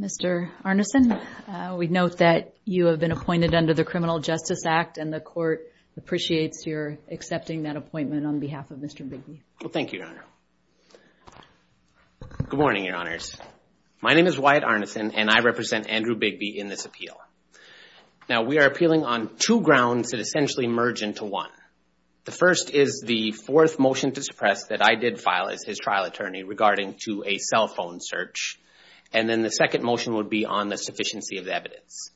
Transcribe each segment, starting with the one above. Mr. Arneson, we note that you have been appointed under the Criminal Justice Act, and the court appreciates your accepting that appointment on behalf of Mr. Bigbee. Well, thank you, Your Honor. Good morning, Your Honors. My name is Wyatt Arneson, and I represent Andrew Bigbee in this appeal. Now, we are appealing on two grounds that essentially merge into one. The first is the fourth motion to suppress that I did file as his trial attorney regarding to a cell phone search. And then the second motion would be on the sufficiency of the evidence.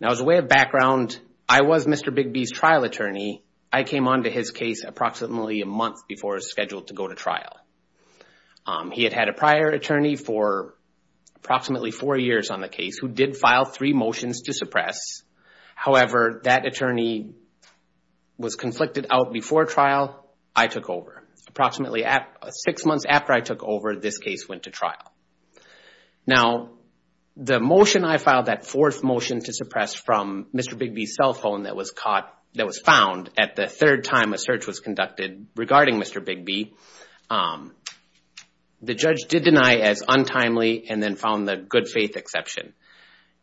Now, as a way of background, I was Mr. Bigbee's trial attorney. I came on to his case approximately a month before he was scheduled to go to trial. He had had a prior attorney for approximately four years on the case who did file three motions to suppress. However, that attorney was conflicted out before trial. I took over approximately six months after I took over, this case went to trial. Now, the motion I filed, that fourth motion to suppress from Mr. Bigbee's cell phone that was found at the third time a search was conducted regarding Mr. Bigbee, the judge did deny as untimely and then found the good faith exception.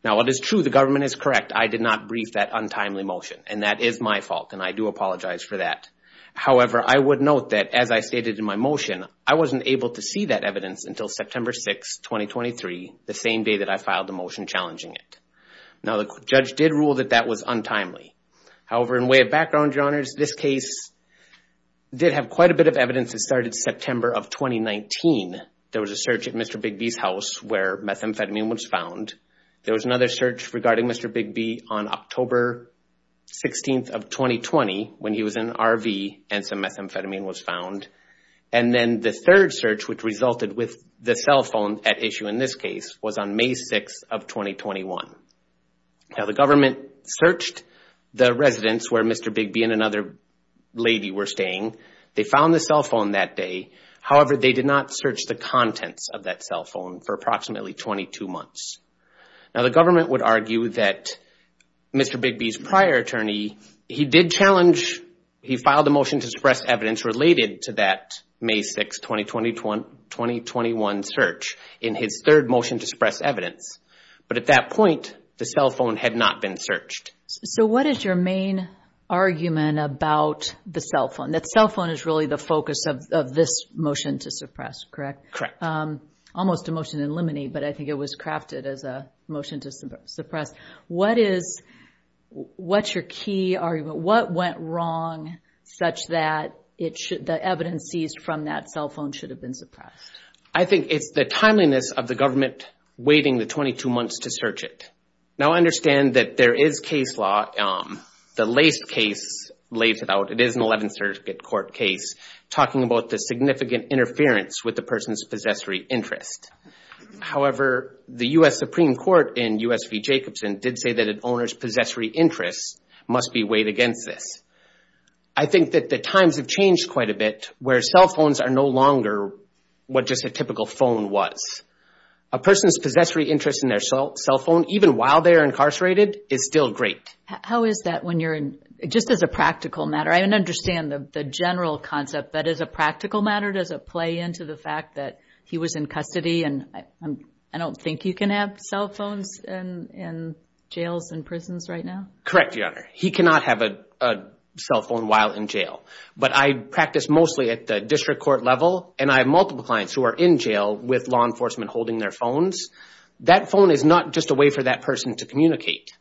Now, it is true the government is correct. I did not brief that untimely motion, and that is my fault, and I do apologize for that. However, I would note that as I stated in my motion, I wasn't able to see that evidence until September 6, 2023, the same day that I filed the motion challenging it. Now, the judge did rule that that was untimely. However, in way of background, your honors, this case did have quite a bit of evidence that started September of 2019. There was a search at Mr. Bigbee's house where methamphetamine was found. There was another search regarding Mr. Bigbee on October 16th of 2020 when he was in an RV and some methamphetamine was found. And then the third search which resulted with the cell phone at issue in this case was on May 6th of 2021. Now, the government searched the residence where Mr. Bigbee and another lady were staying. They found the cell phone that day. However, they did not search the contents of that cell phone for approximately 22 months. Now, the government would argue that Mr. Bigbee's prior attorney, he did challenge, he filed a motion to suppress evidence related to that May 6, 2020, 2021 search in his third motion to suppress evidence. But at that point, the cell phone had not been searched. So, what is your main argument about the cell phone? That cell phone is really the focus of this motion to suppress, correct? Correct. Almost a motion in limine, but I think it was crafted as a motion to suppress. What is, what's your key argument? What went wrong such that the evidence seized from that cell phone should have been suppressed? I think it's the timeliness of the government waiting the 22 months to search it. Now, I understand that there is case law, the Lace case lays it out. It is an 11th Circuit Court case talking about the significant interference with the person's possessory interest. However, the U.S. Supreme Court in U.S. v. Jacobson did say that an owner's possessory interest must be weighed against this. I think that the times have changed quite a bit, where cell phones are no longer what just a typical phone was. A person's possessory interest in their cell phone, even while they're incarcerated, is still great. How is that when you're in, just as a practical matter, I don't understand the general concept, but as a practical matter, does it play into the fact that he was in custody and I don't think you can have cell phones in jails and prisons right now? Correct, Your Honor. He cannot have a cell phone while in jail. But I practice mostly at the district court level, and I have multiple clients who are in jail with law enforcement holding their phones. That phone is not just a way for that person to communicate.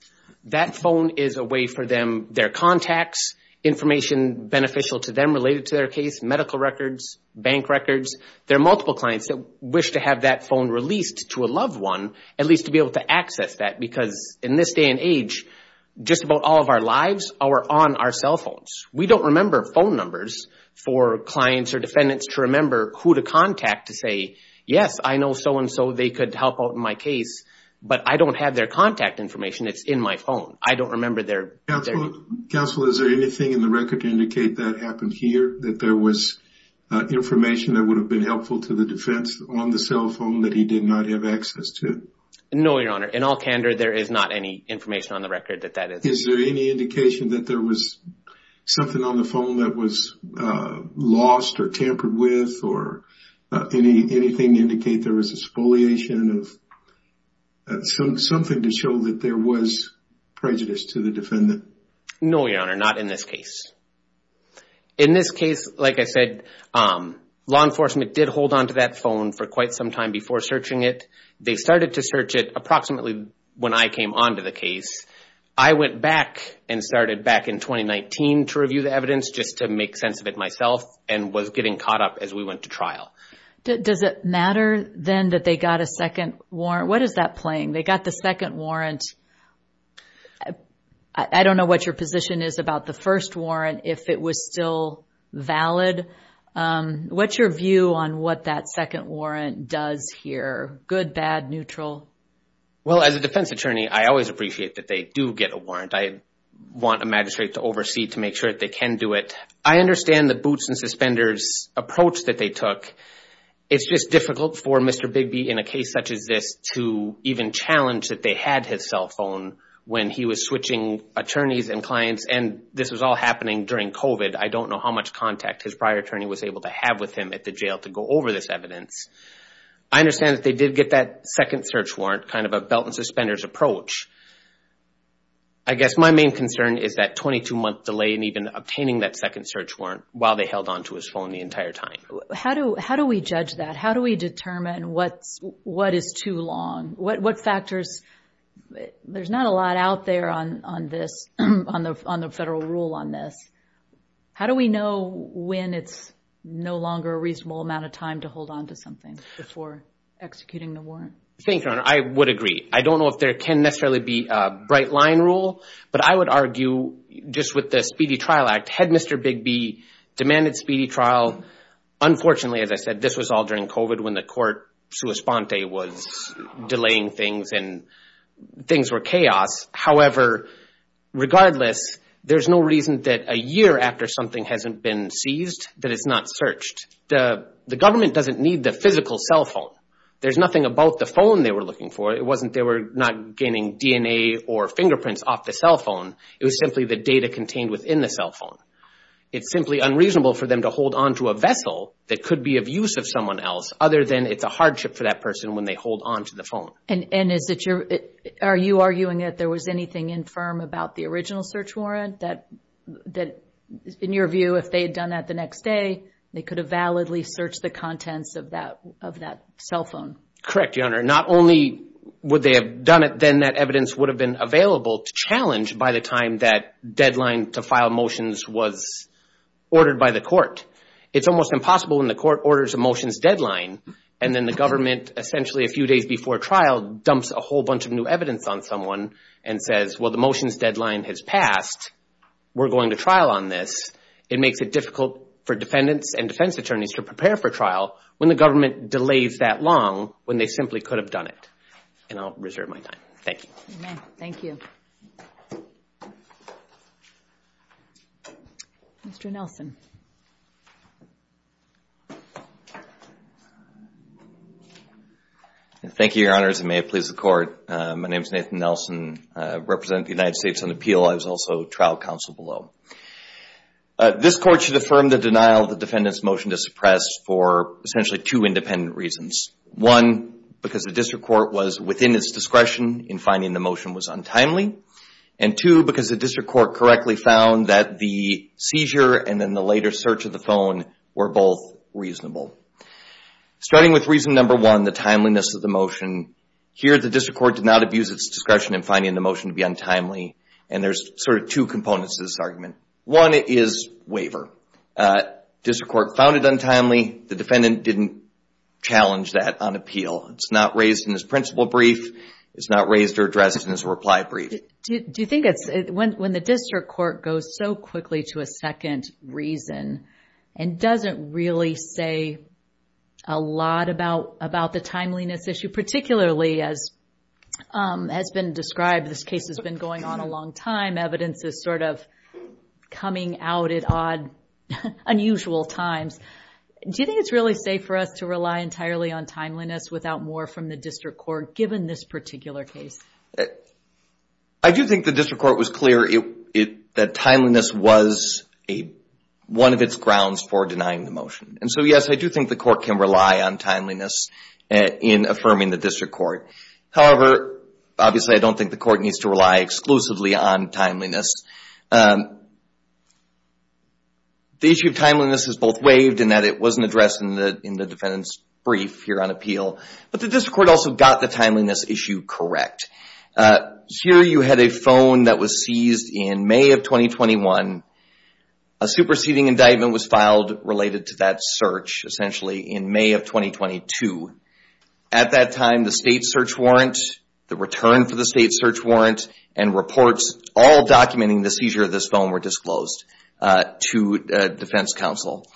That phone is a way for them, their contacts, information beneficial to them related to their case medical records, bank records. There are multiple clients that wish to have that phone released to a loved one, at least to be able to access that, because in this day and age, just about all of our lives are on our cell phones. We don't remember phone numbers for clients or defendants to remember who to contact to say, yes, I know so and so, they could help out in my case, but I don't have their contact information. It's in my phone. I don't remember their... Counsel, is there anything in the record to indicate that happened here? That there was information that would have been helpful to the defense on the cell phone that he did not have access to? No, Your Honor. In all candor, there is not any information on the record that that is... Is there any indication that there was something on the phone that was lost or tampered with or anything to indicate there was a spoliation of... Something to show that there was prejudice to the defendant? No, Your Honor. Not in this case. In this case, like I said, law enforcement did hold onto that phone for quite some time before searching it. They started to search it approximately when I came onto the case. I went back and started back in 2019 to review the evidence just to make sense of it myself and was getting caught up as we went to trial. Does it matter then that they got a second warrant? What is that playing? They got the second warrant. I don't know what your position is about the first warrant, if it was still valid. What's your view on what that second warrant does here? Good, bad, neutral? Well, as a defense attorney, I always appreciate that they do get a warrant. I want a magistrate to oversee to make sure that they can do it. I understand the boots and suspenders approach that they took. It's just difficult for Mr. Bigby in a case such as this to even challenge that they had his cell phone when he was switching attorneys and clients, and this was all happening during COVID. I don't know how much contact his prior attorney was able to have with him at the jail to go over this evidence. I understand that they did get that second search warrant, kind of a belt and suspenders approach. I guess my main concern is that 22-month delay in even obtaining that second search warrant while they held onto his phone the entire time. How do we judge that? How do we determine what is too long? What factors? There's not a lot out there on the federal rule on this. How do we know when it's no longer a reasonable amount of time to hold onto something before executing the warrant? Thank you, Your Honor. I would agree. I don't know if there can necessarily be a bright line rule, but I would argue just with the Speedy Trial Act, had Mr. Bigby demanded speedy trial, unfortunately, as I said, this was all during COVID when the court sua sponte was delaying things and things were chaos. However, regardless, there's no reason that a year after something hasn't been seized that it's not searched. The government doesn't need the physical cell phone. There's nothing about the phone they were looking for. It wasn't they were not gaining DNA or fingerprints off the cell phone. It was simply the data onto a vessel that could be of use of someone else, other than it's a hardship for that person when they hold onto the phone. Are you arguing that there was anything infirm about the original search warrant that, in your view, if they had done that the next day, they could have validly searched the contents of that cell phone? Correct, Your Honor. Not only would they have done it, then that evidence would have been by the time that deadline to file motions was ordered by the court. It's almost impossible when the court orders a motions deadline and then the government, essentially a few days before trial, dumps a whole bunch of new evidence on someone and says, well, the motions deadline has passed. We're going to trial on this. It makes it difficult for defendants and defense attorneys to prepare for trial when the government delays that long when they simply could have done it. And I'll reserve my time. Thank you. You may. Thank you. Mr. Nelson. Thank you, Your Honors, and may it please the court. My name is Nathan Nelson. I represent the United States on appeal. I was also trial counsel below. This court should affirm the denial of the defendant's motion to suppress for essentially two independent reasons. One, because the district court was within its discretion in finding the motion was untimely. And two, because the district court correctly found that the seizure and then the later search of the phone were both reasonable. Starting with reason number one, the timeliness of the motion. Here, the district court did not abuse its discretion in finding the motion to be untimely. And there's sort of two components to this argument. One, it is waiver. District court found it untimely. The defendant didn't challenge that on appeal. It's not raised in this principle brief. It's not raised or addressed in this reply brief. Do you think it's, when the district court goes so quickly to a second reason and doesn't really say a lot about the timeliness issue, particularly as has been described, this case has been going on a long time. Evidence is sort of coming out at odd, unusual times. Do you think it's really safe for us to rely entirely on timeliness without more from the district court given this particular case? I do think the district court was clear that timeliness was one of its grounds for denying the motion. And so, yes, I do think the court can rely on timeliness in affirming the district court. However, obviously, I don't think the court needs to rely exclusively on timeliness. The issue of timeliness is both waived and that it wasn't addressed in the defendant's brief here on appeal. But the district court also got the timeliness issue correct. Here you had a phone that was seized in May of 2021. A superseding indictment was filed related to that search, essentially, in May of 2022. At that time, the state search warrant, the return for the state search warrant, and reports all documenting the seizure of this phone were disclosed to defense counsel.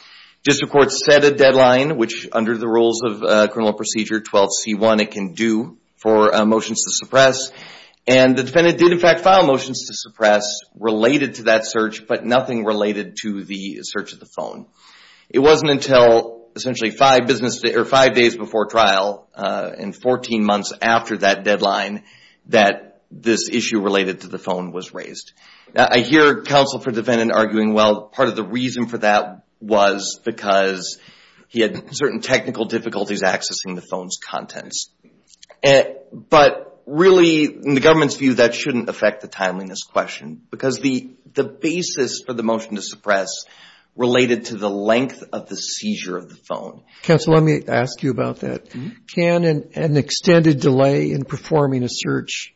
District court set a deadline, which under the rules of criminal procedure 12C1 it can do for motions to suppress. And the defendant did, in fact, file motions to suppress related to that search, but nothing related to the search of the phone. It wasn't until essentially five business days or five days before trial and 14 months after that deadline that this issue related to the phone was raised. Now, I hear counsel for defendant arguing, well, part of the reason for that was because he had certain technical difficulties accessing the phone's contents. But really, in the government's view, that shouldn't affect the timeliness question because the basis for the motion to suppress related to the length of the seizure of the phone. Counsel, let me ask you about that. Can an extended delay in performing a search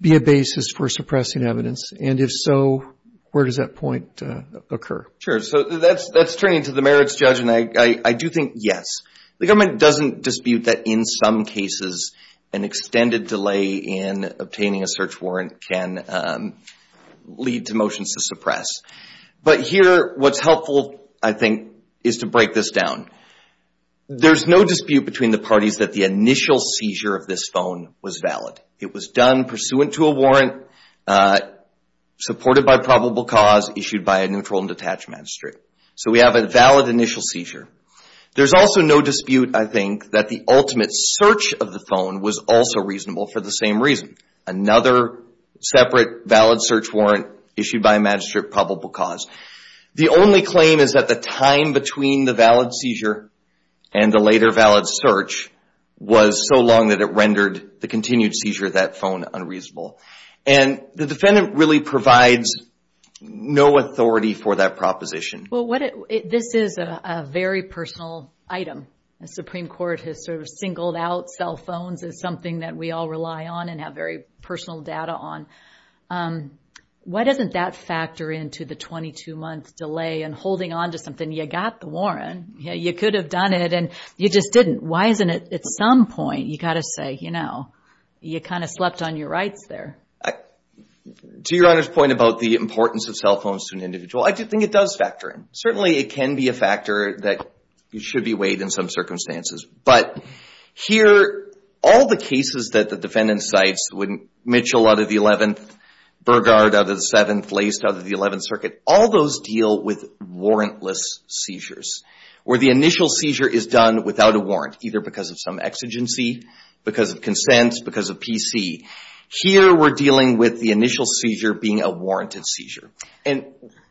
be a basis for suppressing evidence? And if so, where does that point occur? Sure. So that's turning to the merits judge, and I do think yes. The government doesn't dispute that in some cases an extended delay in obtaining a search warrant can lead to motions to suppress. But here, what's helpful, I think, is to break this down. There's no dispute between the parties that the initial seizure of this phone was valid. It was done pursuant to a warrant, supported by probable cause, issued by a neutral and detached magistrate. So we have a valid initial seizure. There's also no dispute, I think, that the ultimate search of the phone was also reasonable for the same reason. Another separate valid search warrant issued by a magistrate, probable cause. The only claim is that the time between the valid seizure and the later valid search was so long that it rendered the continued seizure of that phone unreasonable. And the defendant really provides no authority for that proposition. This is a very personal item. The Supreme Court has sort of singled out cell phones as something that we all rely on and have very personal data on. Why doesn't that factor into the 22-month delay and holding on to something? You got the warrant. You could have done it, and you just didn't. Why isn't it at some point you got to say, you know, you kind of slept on your rights there? To Your Honor's point about the importance of cell phones to an individual, I do think it does factor in. Certainly, it can be a factor that should be weighed in some circumstances. But here, all the cases that the defendant cites, Mitchell out of the 11th, Burgard out of the 7th, Lace out of the 11th Circuit, all those deal with warrantless seizures, where the initial seizure is done without a warrant, either because of some exigency, because of consent, because of PC. Here, we're dealing with the initial seizure being a warranted seizure. And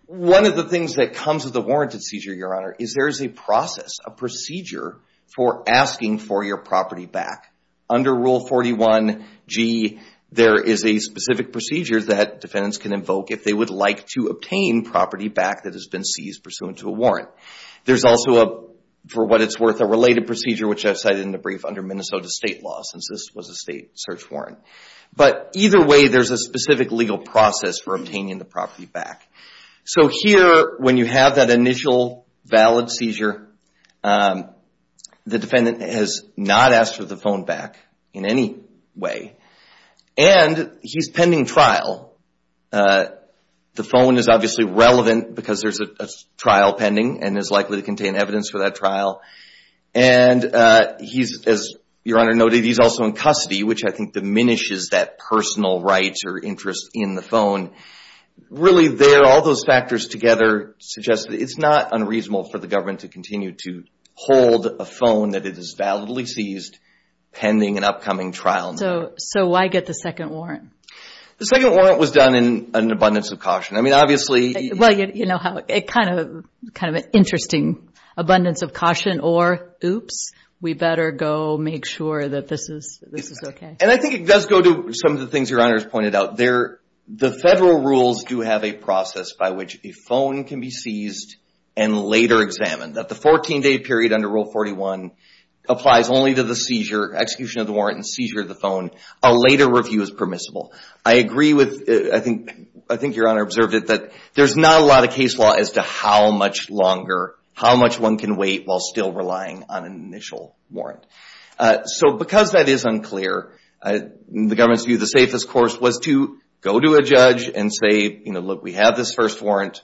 one of the things that comes with a warranted seizure, Your Honor, is there is a process, a procedure for asking for your property back. Under Rule 41G, there is a specific procedure that defendants can invoke if they would like to obtain property back that has been seized pursuant to a warrant. There's also a, for what it's worth, a related procedure, which I've cited in the brief under Minnesota state law, since this was a state search warrant. But either way, there's a specific legal process for obtaining the property back. So here, when you have that initial valid seizure, the defendant has not asked for the phone back in any way. And he's pending trial. The phone is obviously relevant because there's a trial pending and is likely to contain evidence for that trial. And he's, as Your Honor noted, he's also in custody, which I think diminishes that personal rights or interest in the phone. Really, there, all those factors together suggest that it's not unreasonable for the government to continue to hold a phone that it has validly seized pending an upcoming trial. So, so why get the second warrant? The second warrant was done in an abundance of caution. I mean, obviously... Well, you know how it kind of, kind of an interesting abundance of caution or oops, we better go make sure that this is, this is okay. And I think it does go to some of the things Your Honor has pointed out. There, the federal rules do have a process by which a phone can be seized and later examined. That the 14-day period under Rule 41 applies only to the seizure, execution of the warrant and seizure of the phone. A later review is permissible. I agree with, I think, I think Your Honor observed it, that there's not a lot of case law as to how much longer, how much one can wait while still relying on an initial warrant. So because that is unclear, the government's view, the safest course was to go to a judge and say, you know, look, we have this first warrant.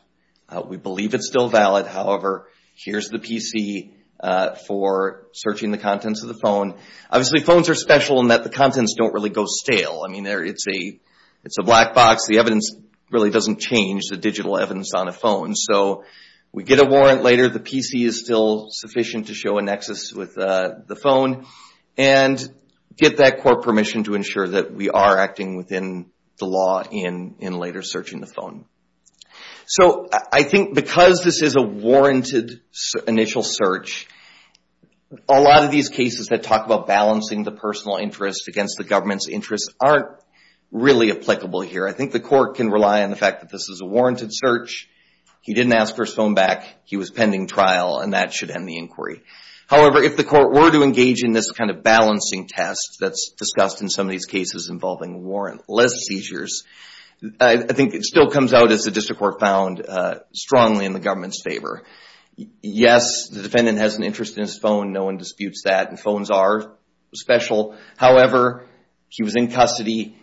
We believe it's still valid. However, here's the PC for searching the contents of the phone. Obviously, phones are special in that the contents don't really go stale. I mean, it's a black box. The evidence really doesn't change, the digital evidence on a phone. So we get a warrant later. The PC is still sufficient to show a nexus with the phone and get that court permission to ensure that we are acting within the law in later searching the phone. So I think because this is a warranted initial search, a lot of these cases that talk about balancing the personal interest against the government's interest aren't really applicable here. I think the court can rely on the fact that this is a warranted search. He didn't ask for his phone back. He was pending trial and that should end the inquiry. However, if the court were to engage in this kind of balancing test that's discussed in some of these cases involving warrantless seizures, I think it still comes out as the district court found strongly in the government's favor. Yes, the defendant has an interest in his phone. No one disputes that. Phones are special. However, he was in custody.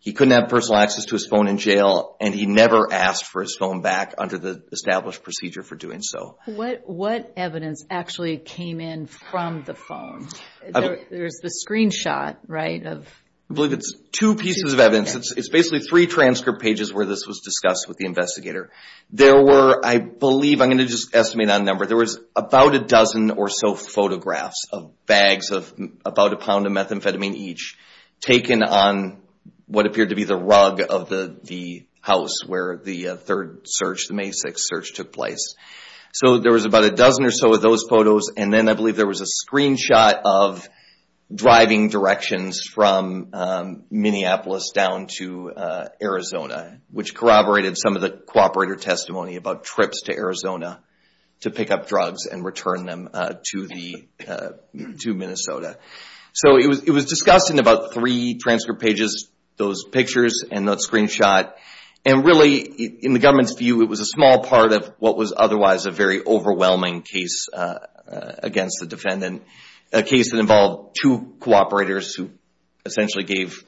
He couldn't have personal access to his phone in jail and he never asked for his phone back under the established procedure for doing so. What evidence actually came in from the phone? There's the screenshot, right? I believe it's two pieces of evidence. It's basically three transcript pages where this was discussed with the investigator. There were, I believe, I'm going to just estimate on number, there was about a dozen or so photographs of bags of about a pound of methamphetamine each taken on what appeared to be the rug of the house where the third search, the May 6th search took place. So there was about a dozen or so of those photos and then I believe there was a screenshot of driving directions from Minneapolis down to Arizona, which corroborated some of the cooperator testimony about trips to Arizona to pick up drugs and return them to Minnesota. So it was discussed in about three transcript pages, those pictures and that screenshot. And really, in the government's view, it was a small part of what was otherwise a very overwhelming case against the defendant. A case that involved two cooperators who essentially gave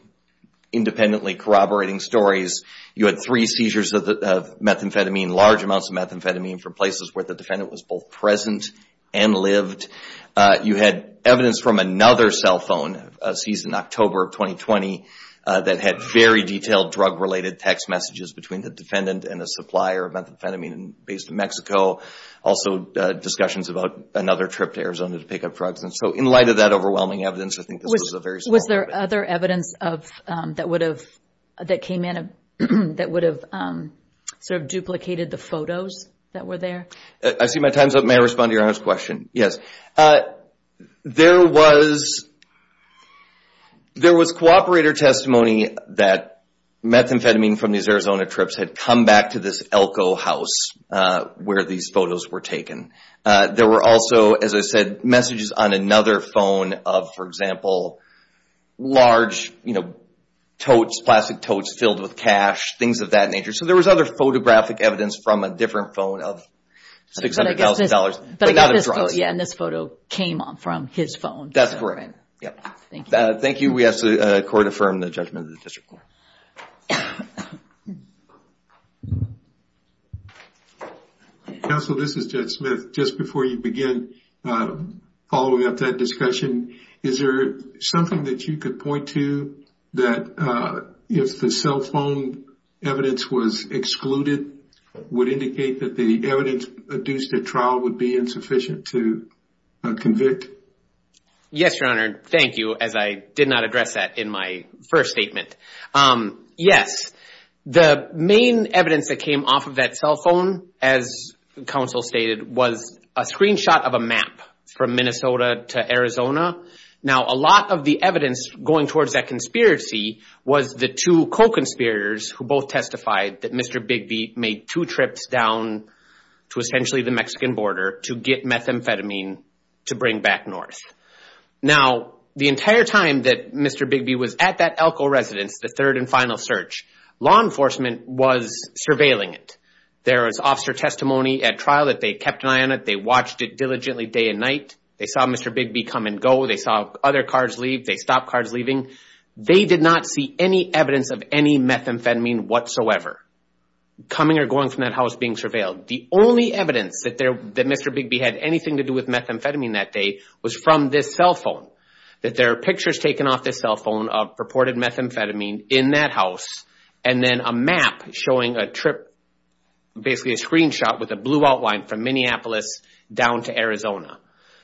independently corroborating stories. You had three seizures of methamphetamine, large amounts of methamphetamine from places where the defendant was both present and lived. You had evidence from another cell phone seized in October of 2020 that had very detailed drug related text messages between the defendant and a supplier of methamphetamine based in Mexico. Also discussions about another trip to Arizona to pick up drugs. So in light of that overwhelming evidence, I think this was a very small part of it. Was there other evidence that came in that would have sort of duplicated the photos that were there? I see my time's up. May I respond to your honest question? Yes. There was cooperator testimony that methamphetamine from these Arizona trips had come back to this Elko house where these photos were taken. There were also, as I said, messages on another phone of, for example, large totes, plastic totes filled with cash, things of that nature. So there was other photographic evidence from a different phone of $600,000. And this photo came from his phone. That's correct. Thank you. We ask the court to affirm the judgment of the district court. Counsel, this is Judge Smith. Just before you begin following up that discussion, is there something that you could point to that if the cell phone evidence was excluded would indicate that the evidence adduced at trial would be insufficient to convict? Yes, Your Honor. Thank you. As I did not address that in my first statement. Yes. The main evidence that came off of that cell phone, as counsel stated, was a screenshot of a map from Minnesota to Arizona. Now, a lot of the evidence going towards that conspiracy was the two co-conspirators who both testified that Mr. Bigby made two trips down to essentially the to bring back north. Now, the entire time that Mr. Bigby was at that Elko residence, the third and final search, law enforcement was surveilling it. There was officer testimony at trial that they kept an eye on it. They watched it diligently day and night. They saw Mr. Bigby come and go. They saw other cars leave. They stopped cars leaving. They did not see any evidence of any methamphetamine whatsoever coming or going from that house being surveilled. The only evidence that Mr. Bigby had anything to do with methamphetamine that day was from this cell phone. That there are pictures taken off this cell phone of purported methamphetamine in that house and then a map showing a trip, basically a screenshot with a blue outline from Minneapolis down to Arizona.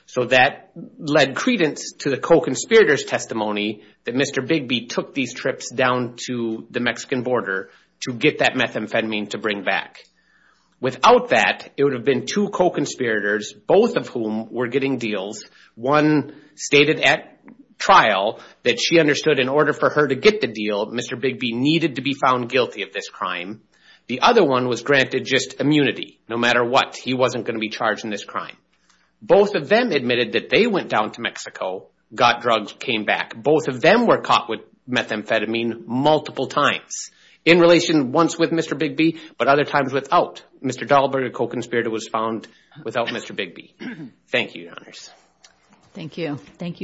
So that led credence to the co-conspirators testimony that Mr. Bigby took these trips down to the Mexican border to get that methamphetamine to bring back. Without that, it would have been two co-conspirators, both of whom were getting deals. One stated at trial that she understood in order for her to get the deal, Mr. Bigby needed to be found guilty of this crime. The other one was granted just immunity. No matter what, he wasn't going to be charged in this crime. Both of them admitted that they went down to Mexico, got drugs, came back. Both of them were caught with methamphetamine multiple times. In relation once with Mr. Bigby, but other times without. Mr. Dahlberg, a co-conspirator was found without Mr. Bigby. Thank you, your honors. Thank you.